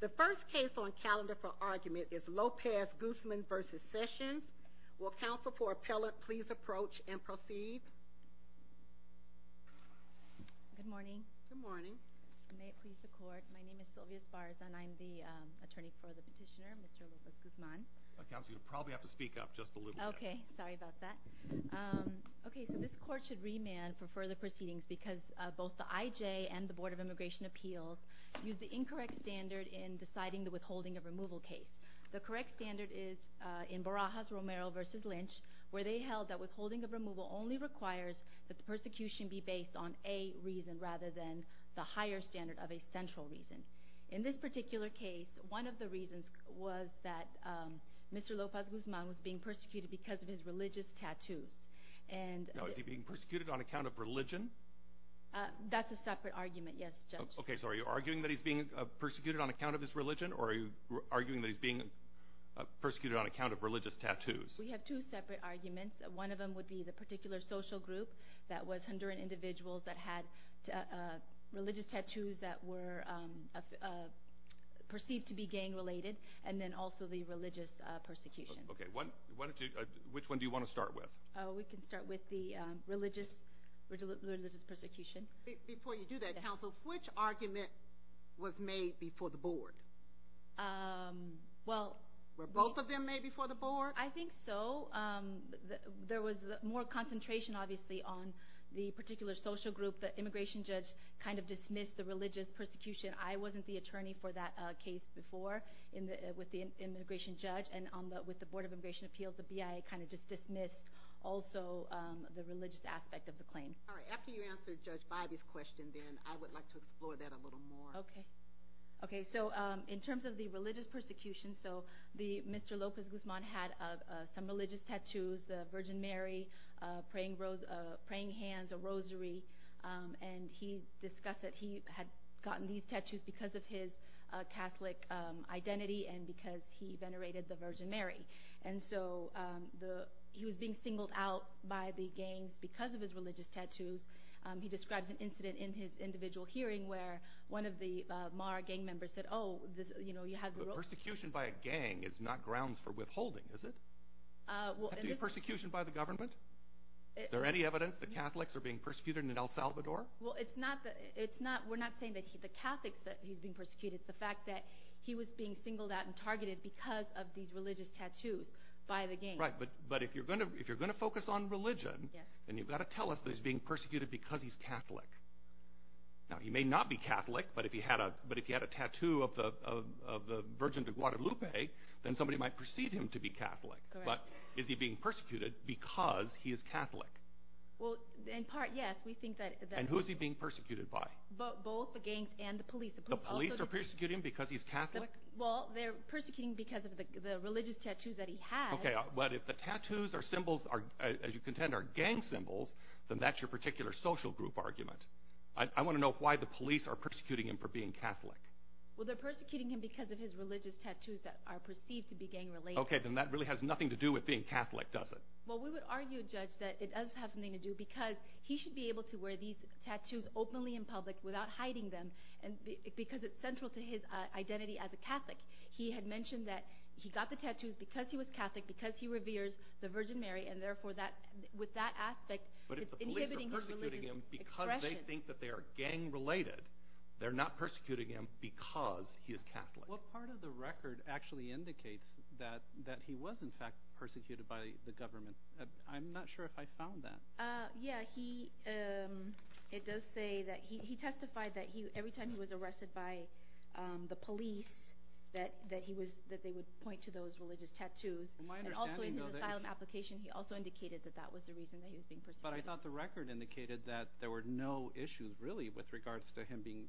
The first case on calendar for argument is Lopez-Guzman v. Sessions. Will counsel for appellate please approach and proceed? Good morning. Good morning. May it please the court, my name is Sylvia Sparza and I'm the attorney for the petitioner, Mr. Lopez-Guzman. Counsel, you'll probably have to speak up just a little bit. Okay, sorry about that. Okay, so this court should remand for further proceedings because both the IJ and the Board of Immigration Appeals use the incorrect standard in deciding the withholding of removal case. The correct standard is in Barajas-Romero v. Lynch, where they held that withholding of removal only requires that the persecution be based on a reason rather than the higher standard of a central reason. In this particular case, one of the reasons was that Mr. Lopez-Guzman was being persecuted because of his religious tattoos. Now, is he being persecuted on account of religion? That's a separate argument, yes, Judge. Okay, so are you arguing that he's being persecuted on account of his religion or are you arguing that he's being persecuted on account of religious tattoos? We have two separate arguments. One of them would be the particular social group that was Honduran individuals that had religious tattoos that were perceived to be gang-related and then also the religious persecution. Okay, which one do you want to start with? We can start with the religious persecution. Before you do that, counsel, which argument was made before the board? Were both of them made before the board? I think so. There was more concentration, obviously, on the particular social group. The immigration judge kind of dismissed the religious persecution. I wasn't the attorney for that case before with the immigration judge, and with the Board of Immigration Appeals, the BIA kind of just dismissed also the religious aspect of the claim. All right, after you answer Judge Bybee's question, then, I would like to explore that a little more. Okay, so in terms of the religious persecution, Mr. Lopez Guzman had some religious tattoos, the Virgin Mary, praying hands, a rosary, and he discussed that he had gotten these tattoos because of his Catholic identity and because he venerated the Virgin Mary. And so he was being singled out by the gangs because of his religious tattoos. He describes an incident in his individual hearing where one of the Mara gang members said, oh, you know, you had the rose. But persecution by a gang is not grounds for withholding, is it? It's not persecution by the government? Is there any evidence that Catholics are being persecuted in El Salvador? Well, we're not saying that the Catholics that he's being persecuted. It's the fact that he was being singled out and targeted because of these religious tattoos by the gangs. Right, but if you're going to focus on religion, then you've got to tell us that he's being persecuted because he's Catholic. Now, he may not be Catholic, but if he had a tattoo of the Virgin of Guadalupe, then somebody might perceive him to be Catholic. But is he being persecuted because he is Catholic? Well, in part, yes. And who is he being persecuted by? Both the gangs and the police. The police are persecuting him because he's Catholic? Well, they're persecuting him because of the religious tattoos that he has. Okay, but if the tattoos or symbols, as you contend, are gang symbols, then that's your particular social group argument. I want to know why the police are persecuting him for being Catholic. Well, they're persecuting him because of his religious tattoos that are perceived to be gang-related. Okay, then that really has nothing to do with being Catholic, does it? Well, we would argue, Judge, that it does have something to do because he should be able to wear these tattoos openly in public without hiding them because it's central to his identity as a Catholic. He had mentioned that he got the tattoos because he was Catholic, because he reveres the Virgin Mary, and therefore, with that aspect, But if the police are persecuting him because they think that they are gang-related, they're not persecuting him because he is Catholic. What part of the record actually indicates that he was, in fact, persecuted by the government? I'm not sure if I found that. Yeah, it does say that he testified that every time he was arrested by the police, that they would point to those religious tattoos. In his asylum application, he also indicated that that was the reason that he was being persecuted. But I thought the record indicated that there were no issues, really, with regards to him being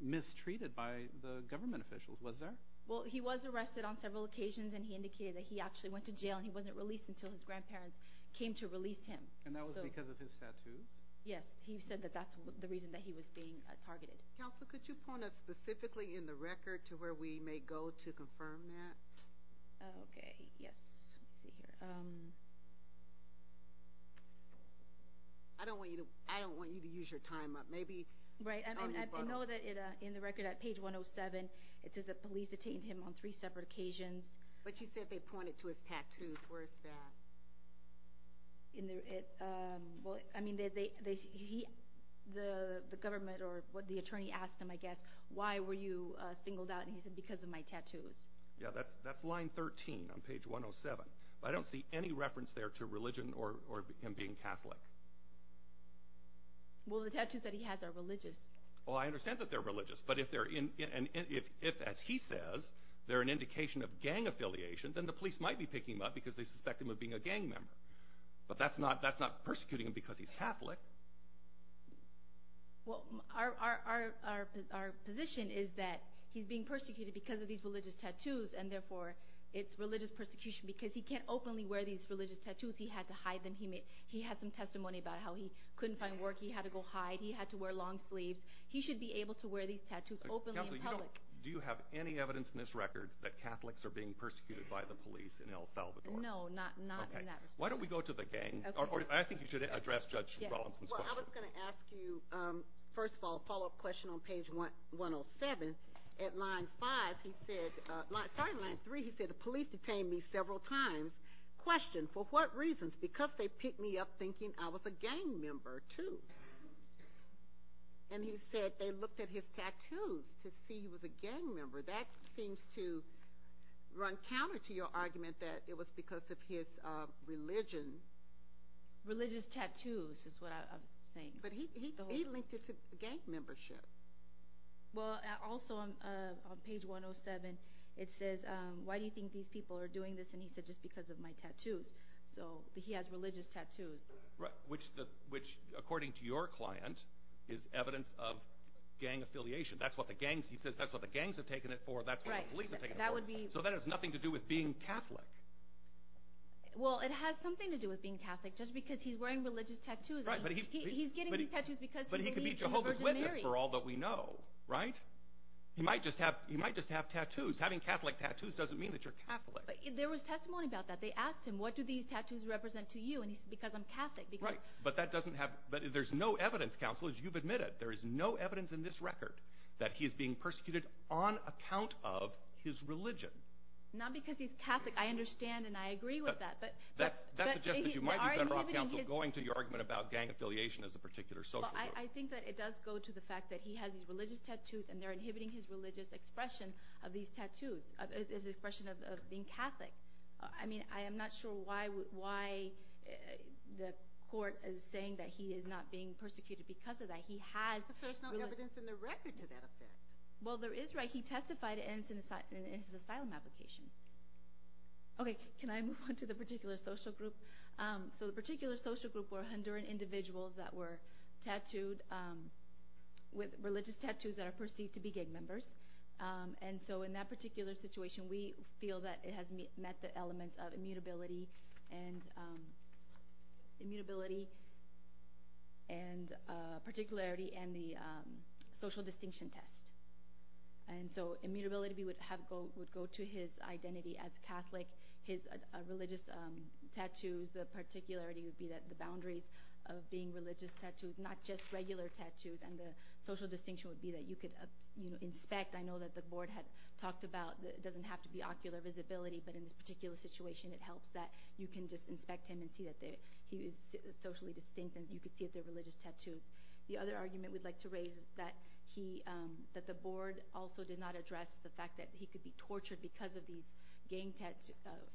mistreated by the government officials. Was there? Well, he was arrested on several occasions, and he indicated that he actually went to jail, and he wasn't released until his grandparents came to release him. And that was because of his tattoos? Yes, he said that that's the reason that he was being targeted. Counselor, could you point us specifically in the record to where we may go to confirm that? Okay, yes. Let's see here. I don't want you to use your time up. Right, and I know that in the record at page 107, it says that police detained him on three separate occasions. But you said they pointed to his tattoos. Where is that? I mean, the government or the attorney asked him, I guess, why were you singled out, and he said, because of my tattoos. Yeah, that's line 13 on page 107. But I don't see any reference there to religion or him being Catholic. Well, the tattoos that he has are religious. Oh, I understand that they're religious. But if, as he says, they're an indication of gang affiliation, then the police might be picking him up because they suspect him of being a gang member. But that's not persecuting him because he's Catholic. Well, our position is that he's being persecuted because of these religious tattoos, and therefore it's religious persecution because he can't openly wear these religious tattoos. He had to hide them. He had some testimony about how he couldn't find work. He had to go hide. He had to wear long sleeves. He should be able to wear these tattoos openly in public. Do you have any evidence in this record that Catholics are being persecuted by the police in El Salvador? No, not in that respect. Why don't we go to the gang? I think you should address Judge Rollinson's question. Well, I was going to ask you, first of all, a follow-up question on page 107. At line 5, sorry, line 3, he said, the police detained me several times. Question, for what reasons? Because they picked me up thinking I was a gang member, too. And he said they looked at his tattoos to see he was a gang member. That seems to run counter to your argument that it was because of his religion. Religious tattoos is what I was saying. But he linked it to gang membership. Well, also on page 107, it says, why do you think these people are doing this? And he said, just because of my tattoos. So he has religious tattoos. Which, according to your client, is evidence of gang affiliation. He says that's what the gangs have taken it for, that's what the police have taken it for. So that has nothing to do with being Catholic. Well, it has something to do with being Catholic, just because he's wearing religious tattoos. He's getting these tattoos because he believes in the Virgin Mary. But he could be Jehovah's Witness for all that we know, right? He might just have tattoos. Having Catholic tattoos doesn't mean that you're Catholic. There was testimony about that. They asked him, what do these tattoos represent to you? And he said, because I'm Catholic. But there's no evidence, counsel, as you've admitted. There is no evidence in this record that he is being persecuted on account of his religion. Not because he's Catholic. I understand and I agree with that. That suggests that you might be better off, counsel, going to your argument about gang affiliation as a particular social group. I think that it does go to the fact that he has these religious tattoos and they're inhibiting his religious expression of these tattoos, his expression of being Catholic. I mean, I am not sure why the court is saying that he is not being persecuted because of that. He has... But there's no evidence in the record to that effect. Well, there is, right? He testified in his asylum application. Okay, can I move on to the particular social group? So the particular social group were Honduran individuals that were tattooed with religious tattoos that are perceived to be gang members. And so in that particular situation, we feel that it has met the elements of immutability and particularity and the social distinction test. And so immutability would go to his identity as Catholic. His religious tattoos, the particularity would be that the boundaries of being religious tattoos, not just regular tattoos, and the social distinction would be that you could inspect. I know that the board had talked about that it doesn't have to be ocular visibility, but in this particular situation it helps that you can just inspect him and see that he is socially distinct and you can see that they're religious tattoos. The other argument we'd like to raise is that the board also did not address the fact that he could be tortured because of these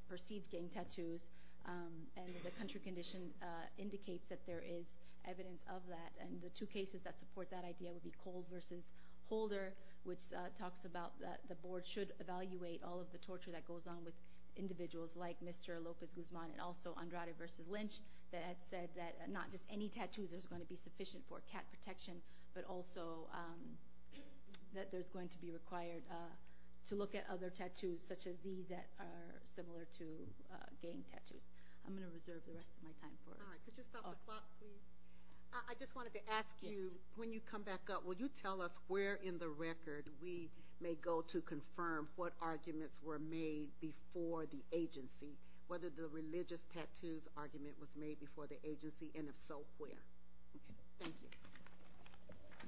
perceived gang tattoos, and the country condition indicates that there is evidence of that. And the two cases that support that idea would be Cole v. Holder, which talks about that the board should evaluate all of the torture that goes on with individuals like Mr. Lopez-Guzman and also Andrade v. Lynch, that had said that not just any tattoos are going to be sufficient for cat protection, but also that there's going to be required to look at other tattoos such as these that are similar to gang tattoos. I'm going to reserve the rest of my time for it. Could you stop the clock, please? I just wanted to ask you, when you come back up, will you tell us where in the record we may go to confirm what arguments were made before the agency, whether the religious tattoos argument was made before the agency, and if so, where?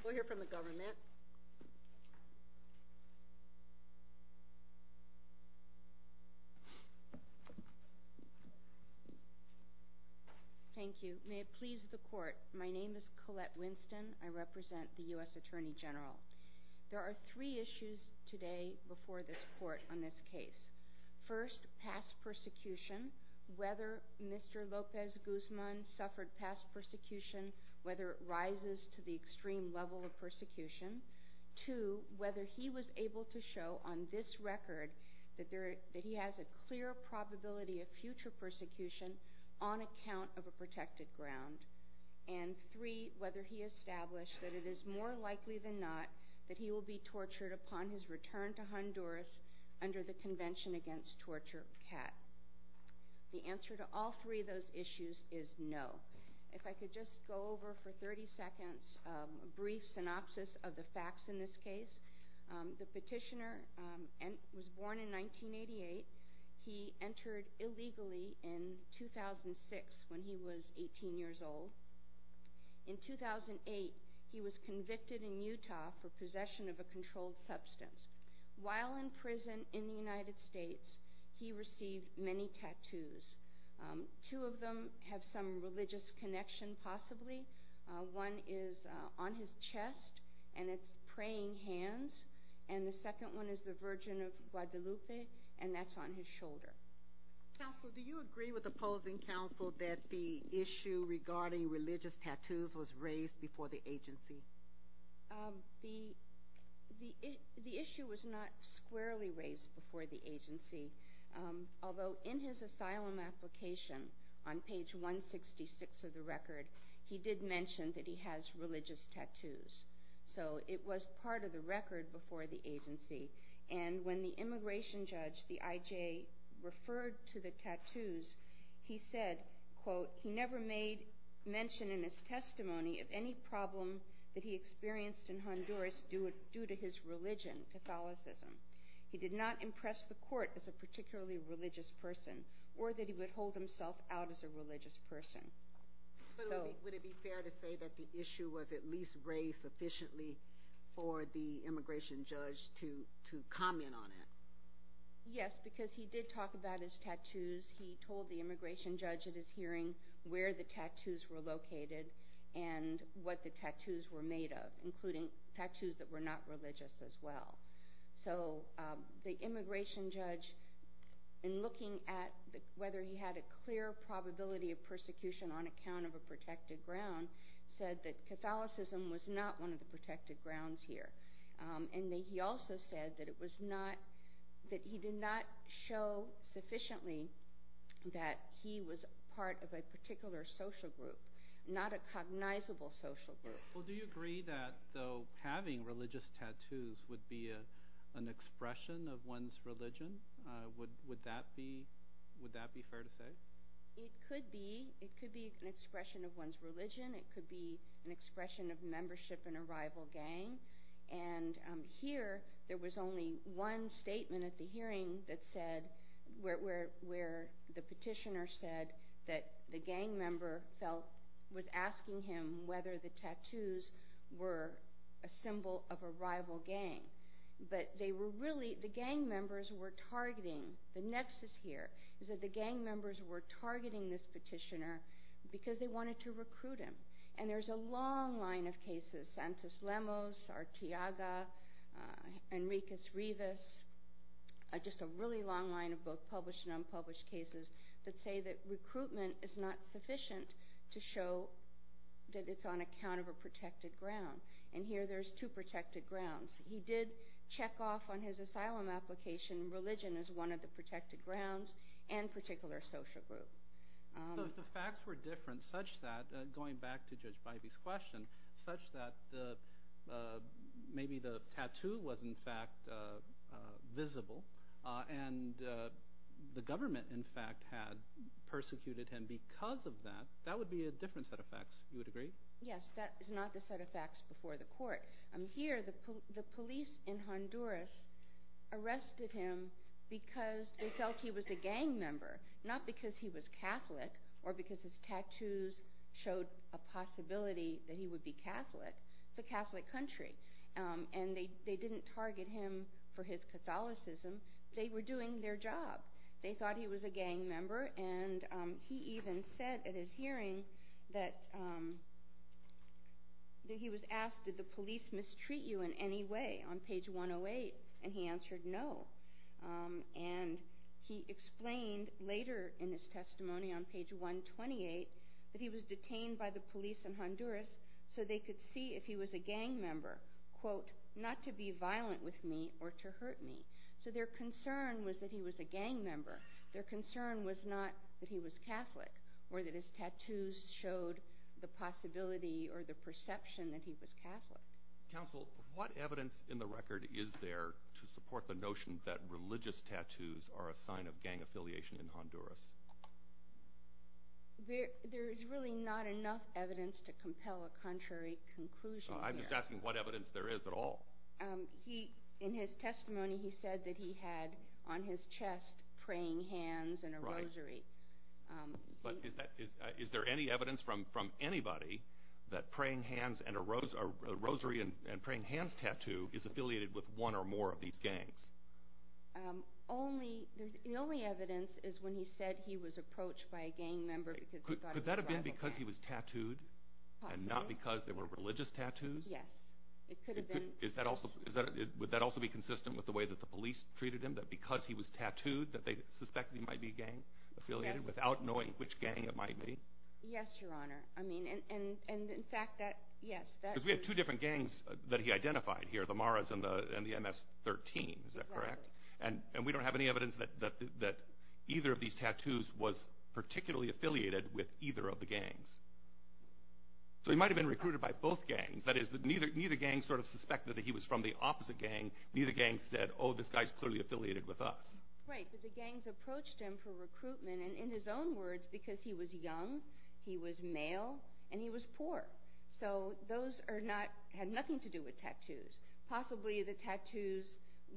We'll hear from the government. Thank you. Thank you. May it please the Court, my name is Colette Winston. I represent the U.S. Attorney General. There are three issues today before this Court on this case. First, past persecution, whether Mr. Lopez-Guzman suffered past persecution, whether it rises to the extreme level of persecution. Two, whether he was able to show on this record that he has a clear probability of future persecution on account of a protected ground. And three, whether he established that it is more likely than not that he will be tortured upon his return to Honduras under the Convention Against Torture of Cat. The answer to all three of those issues is no. If I could just go over for 30 seconds a brief synopsis of the facts in this case. The petitioner was born in 1988. He entered illegally in 2006 when he was 18 years old. In 2008, he was convicted in Utah for possession of a controlled substance. While in prison in the United States, he received many tattoos. Two of them have some religious connection possibly. One is on his chest, and it's praying hands. And the second one is the Virgin of Guadalupe, and that's on his shoulder. Counsel, do you agree with opposing counsel that the issue regarding religious tattoos was raised before the agency? The issue was not squarely raised before the agency. Although in his asylum application on page 166 of the record, he did mention that he has religious tattoos. So it was part of the record before the agency. And when the immigration judge, the IJ, referred to the tattoos, he said, quote, he never made mention in his testimony of any problem that he experienced in Honduras due to his religion, Catholicism. He did not impress the court as a particularly religious person or that he would hold himself out as a religious person. Would it be fair to say that the issue was at least raised sufficiently for the immigration judge to comment on it? Yes, because he did talk about his tattoos. He told the immigration judge at his hearing where the tattoos were located and what the tattoos were made of, including tattoos that were not religious as well. So the immigration judge, in looking at whether he had a clear probability of persecution on account of a protected ground, said that Catholicism was not one of the protected grounds here. And he also said that he did not show sufficiently that he was part of a particular social group, not a cognizable social group. Well, do you agree that having religious tattoos would be an expression of one's religion? Would that be fair to say? It could be. It could be an expression of one's religion. It could be an expression of membership in a rival gang. And here there was only one statement at the hearing where the petitioner said that the gang member was asking him whether the tattoos were a symbol of a rival gang. But they were really, the gang members were targeting, the nexus here is that the gang members were targeting this petitioner because they wanted to recruit him. And there's a long line of cases, Santos Lemos, Artiaga, Enriquez-Rivas, just a really long line of both published and unpublished cases that say that recruitment is not sufficient to show that it's on account of a protected ground. And here there's two protected grounds. He did check off on his asylum application religion as one of the protected grounds and particular social group. So if the facts were different such that, going back to Judge Bybee's question, such that maybe the tattoo was in fact visible and the government in fact had persecuted him because of that, that would be a different set of facts, you would agree? Yes, that is not the set of facts before the court. Here the police in Honduras arrested him because they felt he was a gang member, not because he was Catholic or because his tattoos showed a possibility that he would be Catholic. It's a Catholic country. And they didn't target him for his Catholicism. They were doing their job. They thought he was a gang member and he even said at his hearing that he was asked, did the police mistreat you in any way on page 108? And he answered no. And he explained later in his testimony on page 128 that he was detained by the police in Honduras so they could see if he was a gang member, quote, not to be violent with me or to hurt me. So their concern was that he was a gang member. Their concern was not that he was Catholic or that his tattoos showed the possibility or the perception that he was Catholic. Counsel, what evidence in the record is there to support the notion that religious tattoos are a sign of gang affiliation in Honduras? There is really not enough evidence to compel a contrary conclusion. I'm just asking what evidence there is at all. In his testimony, he said that he had on his chest praying hands and a rosary. But is there any evidence from anybody that a rosary and praying hands tattoo is affiliated with one or more of these gangs? The only evidence is when he said he was approached by a gang member because he thought he was a violent gang member. Could that have been because he was tattooed and not because they were religious tattoos? Yes, it could have been. Would that also be consistent with the way that the police treated him, that because he was tattooed that they suspected he might be gang affiliated without knowing which gang it might be? Yes, Your Honor. I mean, and in fact, yes. Because we have two different gangs that he identified here, the Maras and the MS-13, is that correct? And we don't have any evidence that either of these tattoos was particularly affiliated with either of the gangs. So he might have been recruited by both gangs. That is, neither gang sort of suspected that he was from the opposite gang. Neither gang said, oh, this guy's clearly affiliated with us. Right, but the gangs approached him for recruitment and in his own words, because he was young, he was male, and he was poor. So those had nothing to do with tattoos. Possibly the tattoos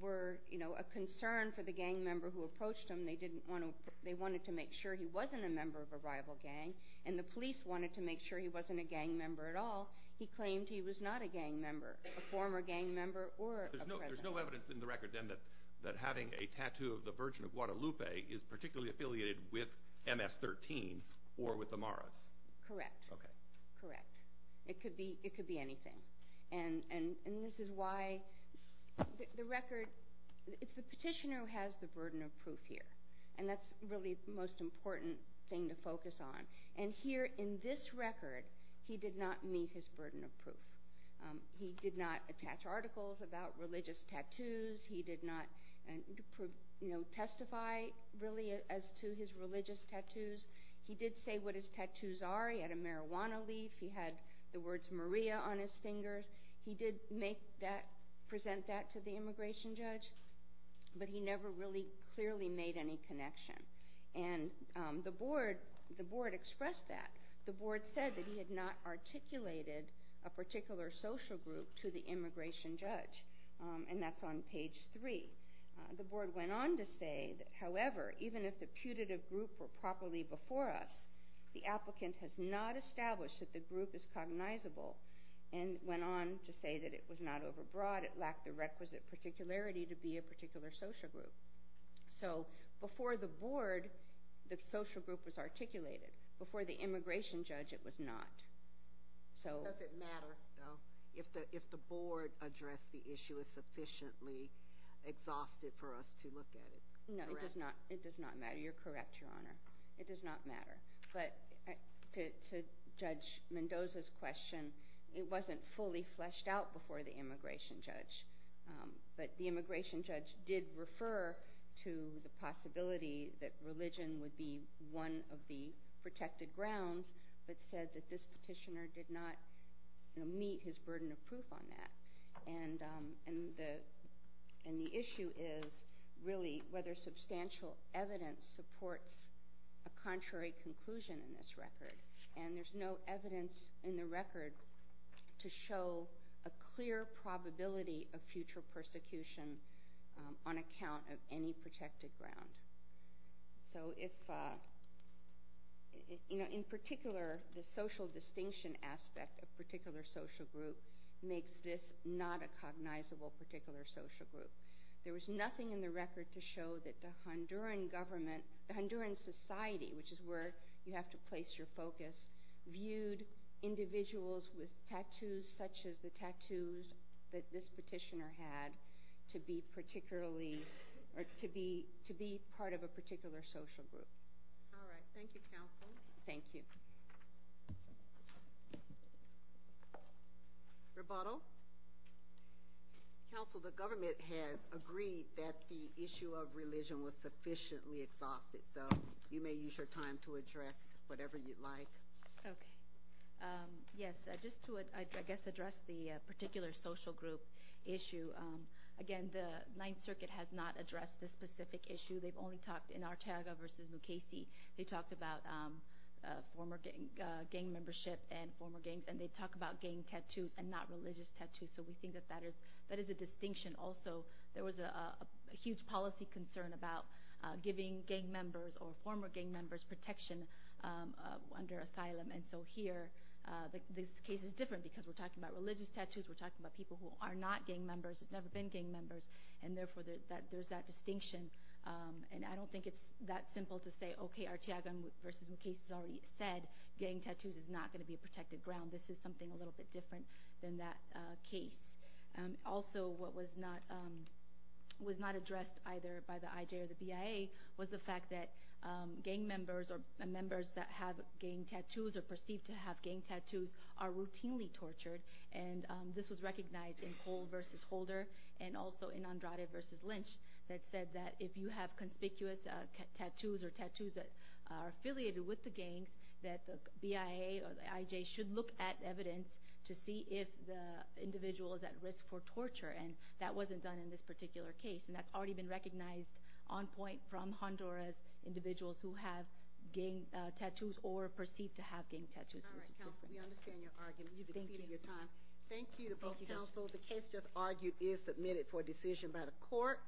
were, you know, a concern for the gang member who approached him. They wanted to make sure he wasn't a member of a rival gang, and the police wanted to make sure he wasn't a gang member at all. He claimed he was not a gang member, a former gang member or a president. There's no evidence in the record, then, that having a tattoo of the Virgin of Guadalupe is particularly affiliated with MS-13 or with the Maras? Correct. Okay. Correct. It could be anything. And this is why the record... It's the petitioner who has the burden of proof here, and that's really the most important thing to focus on. And here in this record, he did not meet his burden of proof. He did not attach articles about religious tattoos. He did not, you know, testify, really, as to his religious tattoos. He did say what his tattoos are. He had a marijuana leaf. He had the words Maria on his fingers. He did make that, present that to the immigration judge, but he never really clearly made any connection. And the board expressed that. The board said that he had not articulated a particular social group to the immigration judge, and that's on page 3. The board went on to say, however, even if the putative group were properly before us, the applicant has not established that the group is cognizable, and went on to say that it was not overbroad. It lacked the requisite particularity to be a particular social group. So before the board, the social group was articulated. Before the immigration judge, it was not. Does it matter, though, if the board addressed the issue is sufficiently exhausted for us to look at it? No, it does not matter. You're correct, Your Honor. It does not matter. But to Judge Mendoza's question, it wasn't fully fleshed out before the immigration judge. But the immigration judge did refer to the possibility that religion would be one of the protected grounds, but said that this petitioner did not meet his burden of proof on that. And the issue is really whether substantial evidence supports a contrary conclusion in this record. And there's no evidence in the record to show a clear probability of future persecution on account of any protected ground. So if... You know, in particular, the social distinction aspect of particular social group makes this not a cognizable particular social group. There was nothing in the record to show that the Honduran government, the Honduran society, which is where you have to place your focus, viewed individuals with tattoos such as the tattoos that this petitioner had to be particularly... or to be part of a particular social group. All right. Thank you, counsel. Thank you. Rebuttal. Counsel, the government has agreed that the issue of religion was sufficiently exhausted, so you may use your time to address whatever you'd like. Okay. Yes. Just to, I guess, address the particular social group issue. Again, the Ninth Circuit has not addressed this specific issue. They've only talked in Arteaga v. Mukasey. They talked about former gang membership and former gangs, and they talk about gang tattoos and not religious tattoos, so we think that that is a distinction also. There was a huge policy concern about giving gang members or former gang members protection under asylum, and so here this case is different because we're talking about religious tattoos, we're talking about people who are not gang members, who've never been gang members, and therefore there's that distinction. And I don't think it's that simple to say, okay, Arteaga v. Mukasey has already said gang tattoos is not going to be a protected ground. This is something a little bit different than that case. Also, what was not addressed either by the IJ or the BIA was the fact that gang members or members that have gang tattoos or are perceived to have gang tattoos are routinely tortured, and this was recognized in Cole v. Holder and also in Andrade v. Lynch that said that if you have conspicuous tattoos or tattoos that are affiliated with the gangs, that the BIA or the IJ should look at evidence to see if the individual is at risk for torture, and that wasn't done in this particular case, and that's already been recognized on point from Honduras, individuals who have gang tattoos or are perceived to have gang tattoos. All right, counsel, we understand your argument. You've exceeded your time. Thank you to both counsels. The case just argued is submitted for decision by the court.